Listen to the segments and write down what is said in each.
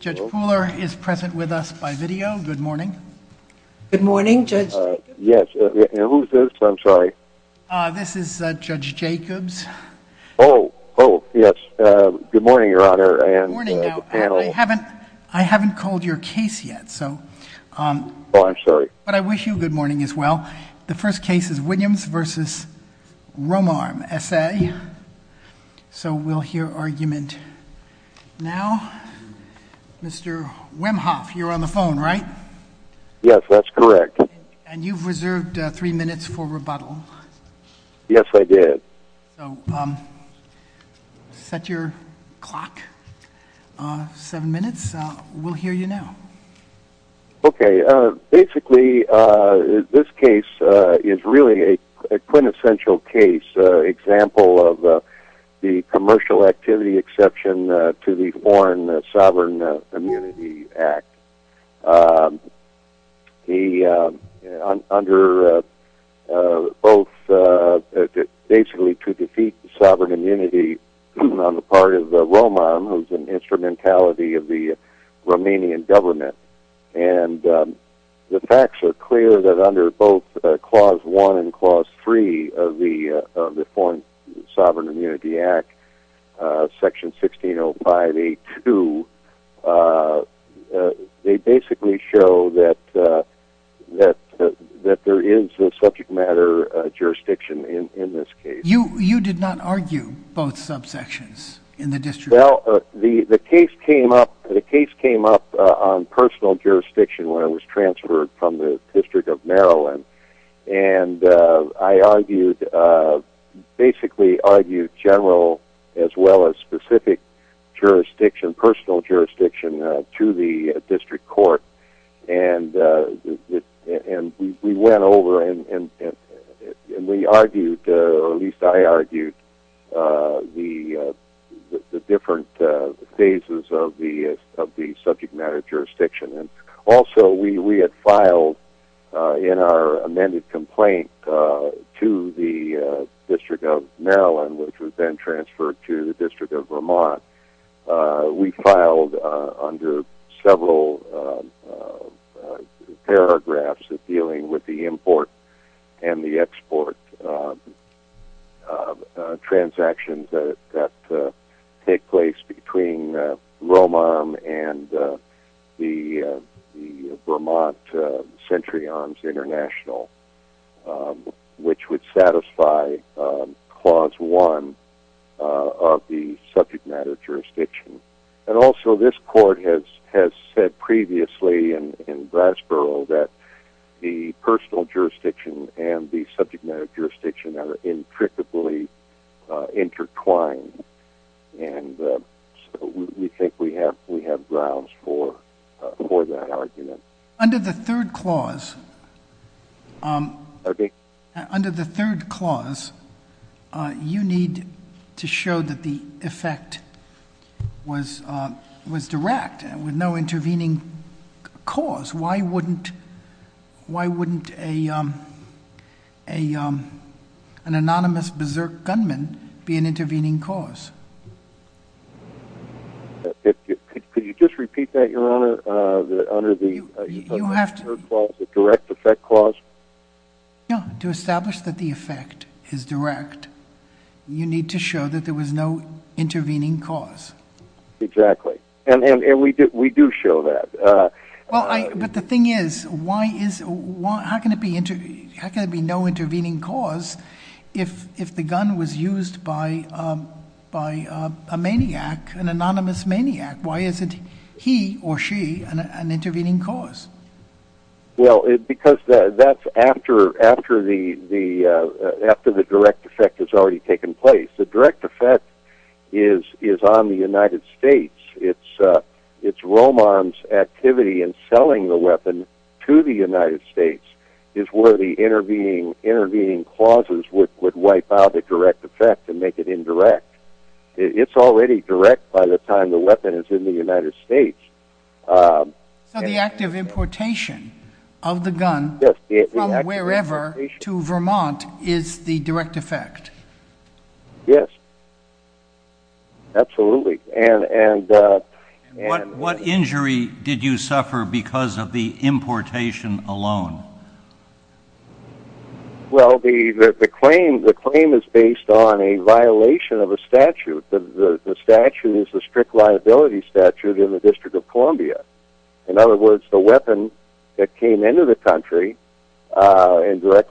Judge Pooler is present with us by video. Good morning. Good morning, Judge Jacobs. Yes, and who's this? I'm sorry. This is Judge Jacobs. Oh, oh, yes. Good morning, Your Honor, and the panel. Good morning. Now, I haven't called your case yet, so. Oh, I'm sorry. But I wish you a good morning as well. The first case is Williams v. Romarm, S.A. So we'll hear argument now. Mr. Wemhoff, you're on the phone, right? Yes, that's correct. And you've reserved three minutes for rebuttal. Yes, I did. So set your clock. Seven minutes. We'll hear you now. Okay, basically, this case is really a quintessential case, an example of the commercial activity exception to the Foreign Sovereign Immunity Act. Under both basically to defeat sovereign immunity on the part of Romarm, who's an instrumentality of the Romanian government. And the facts are clear that under both Clause 1 and Clause 3 of the Foreign Sovereign Immunity Act, Section 1605A2, they basically show that there is a subject matter jurisdiction in this case. You did not argue both subsections in the district? Well, the case came up on personal jurisdiction when I was transferred from the District of Maryland. And I argued, basically argued general as well as specific jurisdiction, personal jurisdiction to the district court. And we went over and we argued, or at least I argued, the different phases of the subject matter jurisdiction. And also we had filed in our amended complaint to the District of Maryland, which was then transferred to the District of Vermont. We filed under several paragraphs of dealing with the import and the export transactions that take place between Romarm and the Vermont Century Arms International, which would satisfy Clause 1 of the subject matter jurisdiction. And also this court has said previously in Brasborough that the personal jurisdiction and the subject matter jurisdiction are intricately intertwined. And we think we have grounds for that argument. Under the third clause, you need to show that the effect was direct with no intervening cause. Why wouldn't an anonymous berserk gunman be an intervening cause? Could you just repeat that, Your Honor, under the third clause, the direct effect clause? Yeah, to establish that the effect is direct, you need to show that there was no intervening cause. Exactly. And we do show that. But the thing is, how can it be no intervening cause if the gun was used by a maniac, an anonymous maniac? Why isn't he or she an intervening cause? Well, because that's after the direct effect has already taken place. The direct effect is on the United States. It's Romarm's activity in selling the weapon to the United States is where the intervening causes would wipe out the direct effect and make it indirect. It's already direct by the time the weapon is in the United States. So the act of importation of the gun from wherever to Vermont is the direct effect? Yes. Absolutely. What injury did you suffer because of the importation alone? Well, the claim is based on a violation of a statute. The statute is the strict liability statute in the District of Columbia. In other words, the weapon that came into the country and was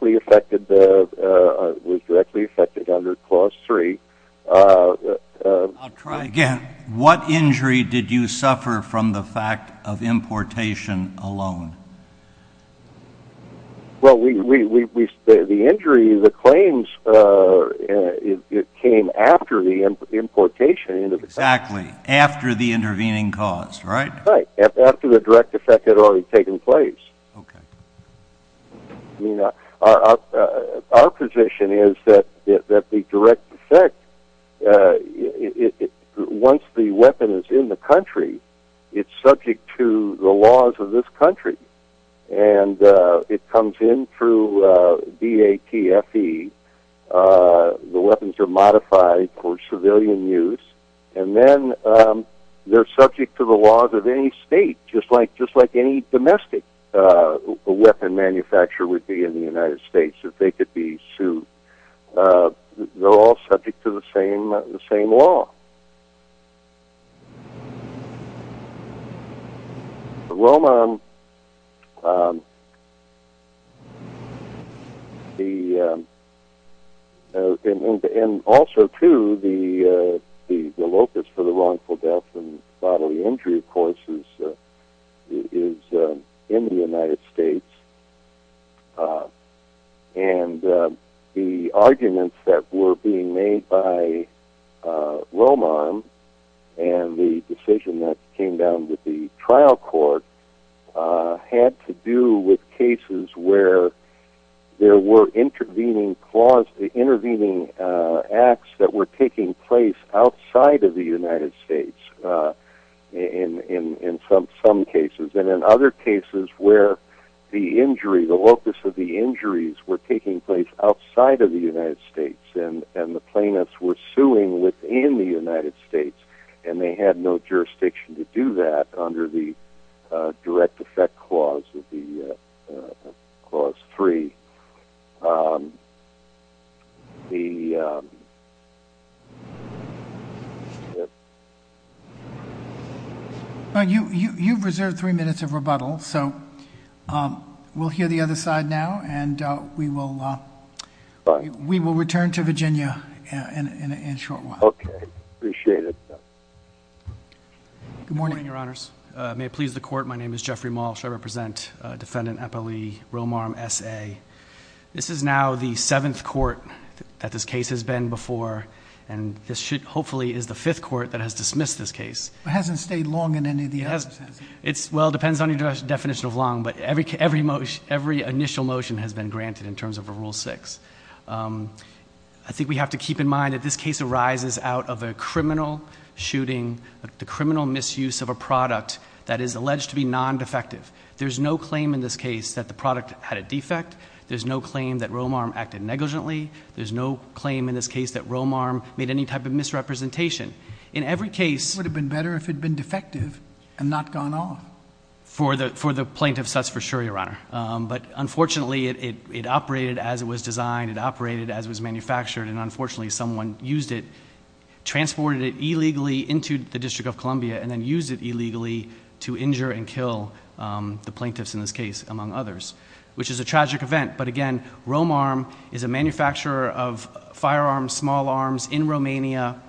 directly affected under Clause 3. I'll try again. What injury did you suffer from the fact of importation alone? Well, the injury, the claims, came after the importation. Exactly. After the intervening cause, right? Right. After the direct effect had already taken place. Our position is that the direct effect, once the weapon is in the country, it's subject to the laws of this country. And it comes in through DATFE. The weapons are modified for civilian use. And then they're subject to the laws of any state, just like any domestic weapon manufacturer would be in the United States if they could be sued. They're all subject to the same law. Romarm, and also, too, the locus for the wrongful death and bodily injury, of course, is in the United States. And the arguments that were being made by Romarm, and the decision that came down with the trial court, had to do with cases where there were intervening acts that were taking place outside of the United States in some cases. And in other cases where the injury, the locus of the injuries were taking place outside of the United States, and the plaintiffs were suing within the United States, and they had no jurisdiction to do that under the direct effect clause of the clause 3. The... You've reserved three minutes of rebuttal. So we'll hear the other side now, and we will return to Virginia in a short while. Okay. Appreciate it. Good morning, Your Honors. May it please the Court, my name is Jeffrey Malsh. I represent Defendant Eppley Romarm, S.A. This is now the seventh court that this case has been before, and this should, hopefully, is the fifth court that has dismissed this case. It hasn't stayed long in any of the other cases. Well, it depends on your definition of long, but every initial motion has been granted in terms of Rule 6. I think we have to keep in mind that this case arises out of a criminal shooting, the criminal misuse of a product that is alleged to be non-defective. There's no claim in this case that the product had a defect. There's no claim that Romarm acted negligently. There's no claim in this case that Romarm made any type of misrepresentation. In every case... It would have been better if it had been defective and not gone off. For the plaintiff, that's for sure, Your Honor. But unfortunately, it operated as it was designed, it operated as it was manufactured, and unfortunately, someone used it, transported it illegally into the District of Columbia and then used it illegally to injure and kill the plaintiffs in this case, among others, which is a tragic event. But again, Romarm is a manufacturer of firearms, small arms, in Romania.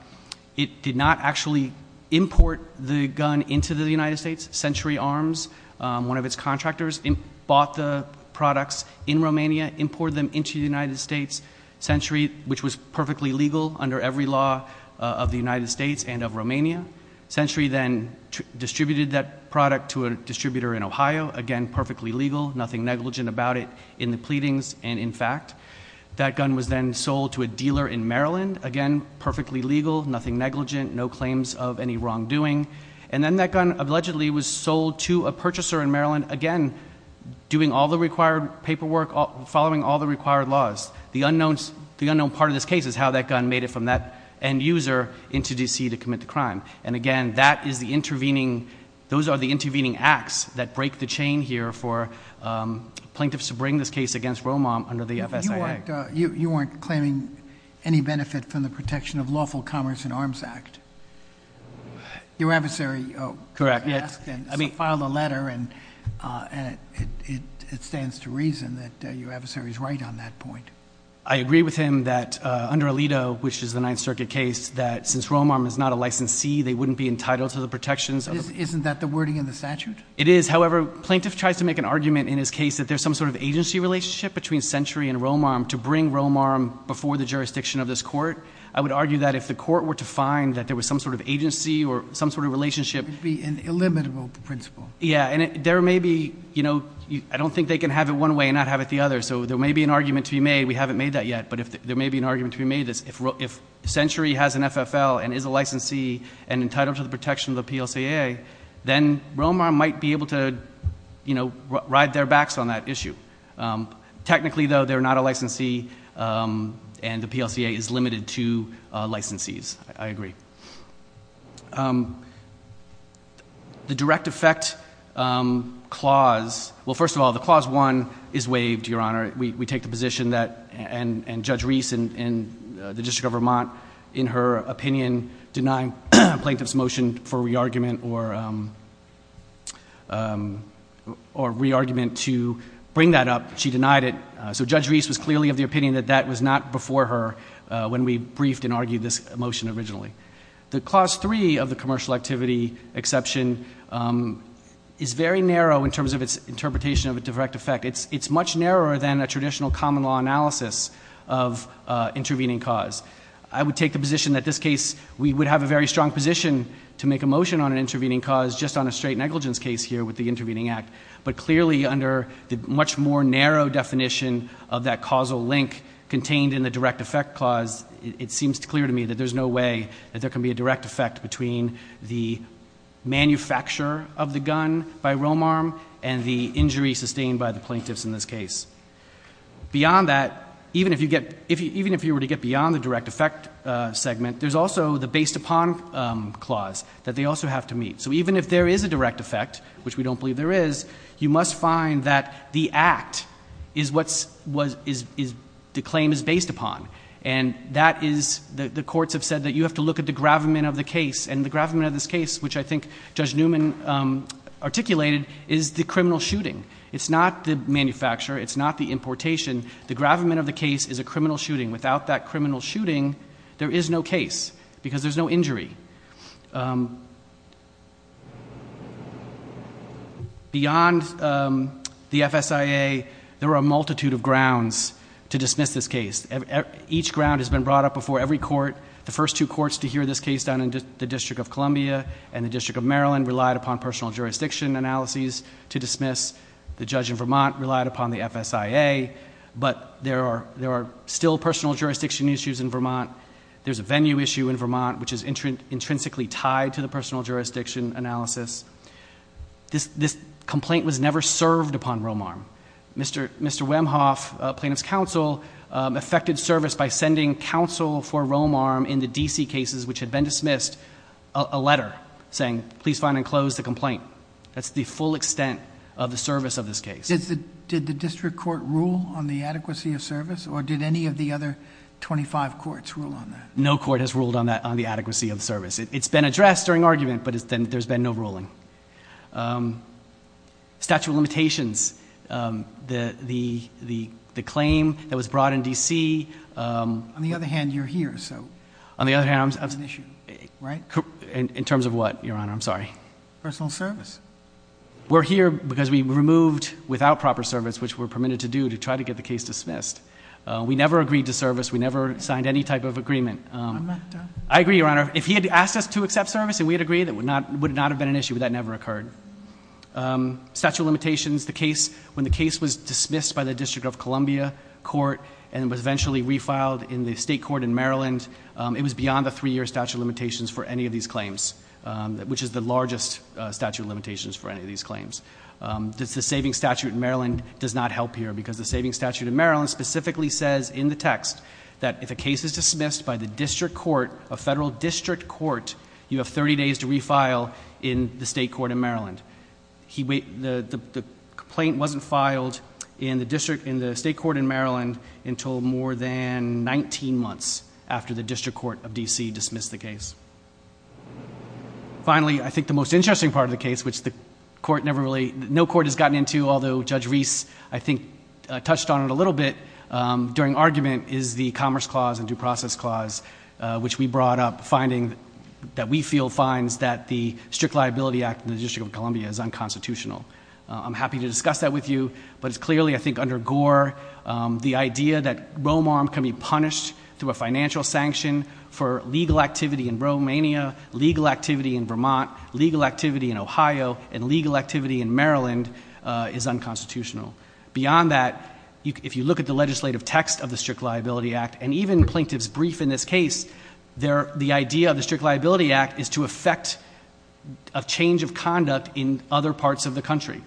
It did not actually import the gun into the United States. Century Arms, one of its contractors, bought the products in Romania, imported them into the United States. Century, which was perfectly legal under every law of the United States and of Romania. Century then distributed that product to a distributor in Ohio. Again, perfectly legal, nothing negligent about it in the pleadings and in fact. That gun was then sold to a dealer in Maryland. Again, perfectly legal, nothing negligent, no claims of any wrongdoing. And again, doing all the required paperwork, following all the required laws. The unknown part of this case is how that gun made it from that end user into D.C. to commit the crime. And again, those are the intervening acts that break the chain here for plaintiffs to bring this case against Romarm under the FSIA. You weren't claiming any benefit from the Protection of Lawful Commerce in Arms Act. Your adversary asked and filed a letter and it stands to reason that your adversary is right on that point. I agree with him that under Alito, which is the Ninth Circuit case, that since Romarm is not a licensee, they wouldn't be entitled to the protections. Isn't that the wording in the statute? It is. However, plaintiff tries to make an argument in his case that there's some sort of agency relationship between Century and Romarm to bring Romarm before the jurisdiction of this court. I would argue that if the court were to find that there was some sort of agency or some sort of relationship. It would be an illimitable principle. Yeah, and there may be, you know, I don't think they can have it one way and not have it the other. So there may be an argument to be made. We haven't made that yet. But there may be an argument to be made that if Century has an FFL and is a licensee and entitled to the protection of the PLCA, then Romarm might be able to, you know, ride their backs on that issue. Technically, though, they're not a licensee and the PLCA is limited to licensees. I agree. The direct effect clause, well, first of all, the Clause 1 is waived, Your Honor. We take the position that, and Judge Reese in the District of Vermont, in her opinion, denying plaintiff's motion for re-argument or re-argument to bring that up, she denied it. So Judge Reese was clearly of the opinion that that was not before her when we briefed and argued this motion originally. The Clause 3 of the commercial activity exception is very narrow in terms of its interpretation of a direct effect. It's much narrower than a traditional common law analysis of intervening cause. I would take the position that this case, we would have a very strong position to make a motion on an intervening cause just on a straight negligence case here with the intervening act. But clearly under the much more narrow definition of that causal link contained in the direct effect clause, it seems clear to me that there's no way that there can be a direct effect between the manufacture of the gun by Romarm and the injury sustained by the plaintiffs in this case. Beyond that, even if you were to get beyond the direct effect segment, there's also the based upon clause that they also have to meet. So even if there is a direct effect, which we don't believe there is, you must find that the act is what the claim is based upon. And that is, the courts have said that you have to look at the gravamen of the case. And the gravamen of this case, which I think Judge Newman articulated, is the criminal shooting. It's not the manufacture. It's not the importation. The gravamen of the case is a criminal shooting. Without that criminal shooting, there is no case because there's no injury. Beyond the FSIA, there are a multitude of grounds to dismiss this case. Each ground has been brought up before every court. The first two courts to hear this case down in the District of Columbia and the District of Maryland relied upon personal jurisdiction analyses to dismiss. The judge in Vermont relied upon the FSIA. But there are still personal jurisdiction issues in Vermont. There's a venue issue in Vermont, which is intrinsically tied to the personal jurisdiction analysis. This complaint was never served upon Romarm. Mr. Wemhoff, plaintiff's counsel, effected service by sending counsel for Romarm in the D.C. cases, which had been dismissed, a letter saying, please find and close the complaint. That's the full extent of the service of this case. Did the district court rule on the adequacy of service, or did any of the other 25 courts rule on that? No court has ruled on the adequacy of service. It's been addressed during argument, but there's been no ruling. Statute of limitations. The claim that was brought in D.C. On the other hand, you're here, so. On the other hand. That's an issue, right? In terms of what, Your Honor? I'm sorry. Personal service. We're here because we removed without proper service, which we're permitted to do to try to get the case dismissed. We never signed any type of agreement. I agree, Your Honor. If he had asked us to accept service and we had agreed, it would not have been an issue. That never occurred. Statute of limitations. The case, when the case was dismissed by the District of Columbia Court and was eventually refiled in the state court in Maryland, it was beyond the three-year statute of limitations for any of these claims, which is the largest statute of limitations for any of these claims. The saving statute in Maryland does not help here, because the saving statute in Maryland specifically says in the text that if a case is dismissed by the district court, a federal district court, you have 30 days to refile in the state court in Maryland. The complaint wasn't filed in the state court in Maryland until more than 19 months after the district court of D.C. dismissed the case. Finally, I think the most interesting part of the case, which the court never really, no court has gotten into, although Judge Reese, I think, touched on it a little bit during argument, is the Commerce Clause and Due Process Clause, which we brought up, finding that we feel finds that the Strict Liability Act in the District of Columbia is unconstitutional. I'm happy to discuss that with you, but it's clearly, I think, under gore. The idea that Romarm can be punished through a financial sanction for legal activity in Romania, legal activity in Vermont, legal activity in Ohio, and legal activity in Maryland is unconstitutional. Beyond that, if you look at the legislative text of the Strict Liability Act, and even Plaintiff's Brief in this case, the idea of the Strict Liability Act is to affect a change of conduct in other parts of the country.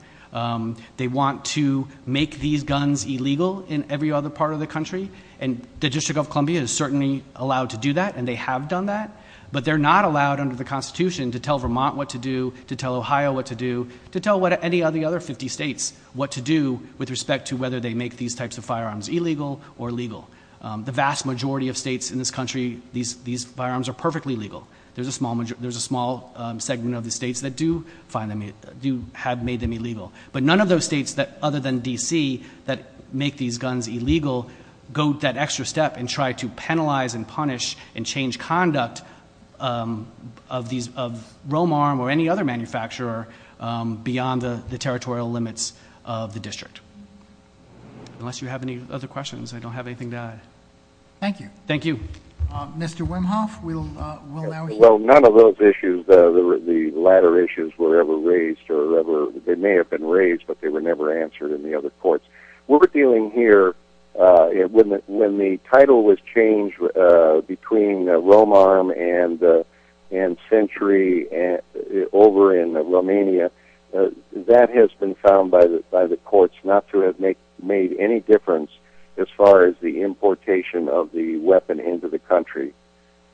They want to make these guns illegal in every other part of the country, and the District of Columbia is certainly allowed to do that, and they have done that, but they're not allowed under the Constitution to tell Vermont what to do, to tell Ohio what to do, to tell any of the other 50 states what to do with respect to whether they make these types of firearms illegal or legal. The vast majority of states in this country, these firearms are perfectly legal. There's a small segment of the states that do have made them illegal, but none of those states other than D.C. that make these guns illegal go that extra step and try to penalize and punish and change conduct of Romarm or any other manufacturer beyond the territorial limits of the district. Unless you have any other questions, I don't have anything to add. Thank you. Thank you. Mr. Wimhoff, we'll now hear from you. Well, none of those issues, the latter issues, were ever raised. They may have been raised, but they were never answered in the other courts. What we're dealing here, when the title was changed between Romarm and Century over in Romania, that has been found by the courts not to have made any difference as far as the importation of the weapon into the country.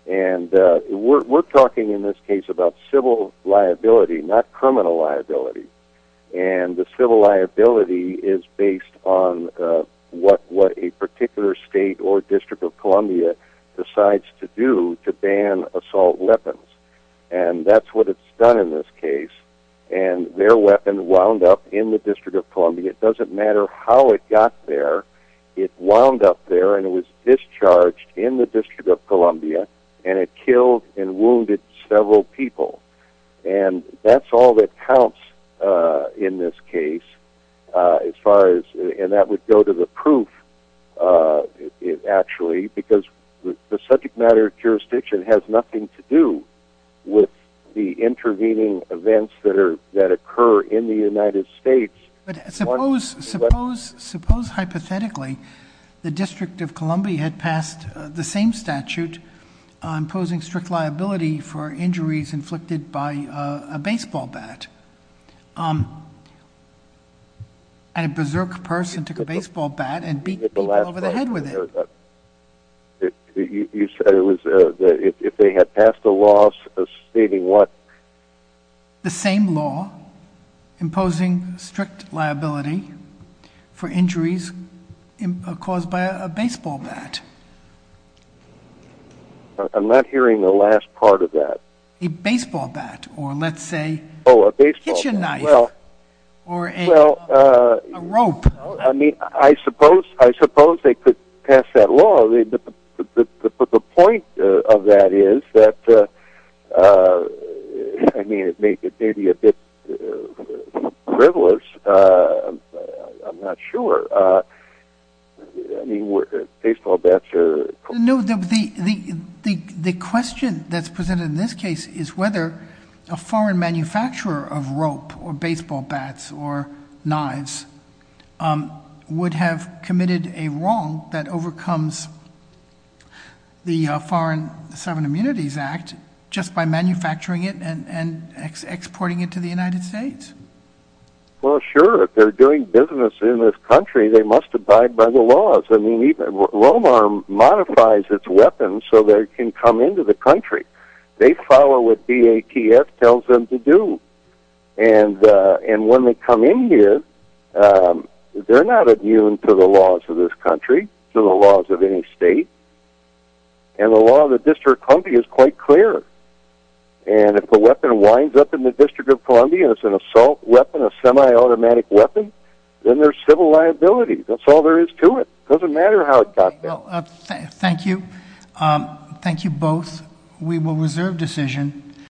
And we're talking in this case about civil liability, not criminal liability. And the civil liability is based on what a particular state or district of Columbia decides to do to ban assault weapons. And that's what it's done in this case. And their weapon wound up in the District of Columbia. It doesn't matter how it got there. It wound up there, and it was discharged in the District of Columbia, and it killed and wounded several people. And that's all that counts in this case as far as – and that would go to the proof, actually, because the subject matter of jurisdiction has nothing to do with the intervening events that occur in the United States. But suppose hypothetically the District of Columbia had passed the same statute imposing strict liability for injuries inflicted by a baseball bat, and a berserk person took a baseball bat and beat people over the head with it. You said it was if they had passed a law stating what? The same law imposing strict liability for injuries caused by a baseball bat. I'm not hearing the last part of that. A baseball bat, or let's say a kitchen knife, or a rope. I mean, I suppose they could pass that law. But the point of that is that – I mean, it may be a bit frivolous. I'm not sure. I mean, were baseball bats – No, the question that's presented in this case is whether a foreign manufacturer of rope or baseball bats or knives would have committed a wrong that overcomes the Foreign Civil Immunities Act just by manufacturing it and exporting it to the United States. Well, sure, if they're doing business in this country, they must abide by the laws. I mean, even Romarm modifies its weapons so they can come into the country. They follow what BATF tells them to do. And when they come in here, they're not adherent to the laws of this country, to the laws of any state. And the law of the District of Columbia is quite clear. And if a weapon winds up in the District of Columbia, it's an assault weapon, a semi-automatic weapon, then there's civil liability. That's all there is to it. It doesn't matter how it got there. Thank you. Thank you both. We will reserve decision.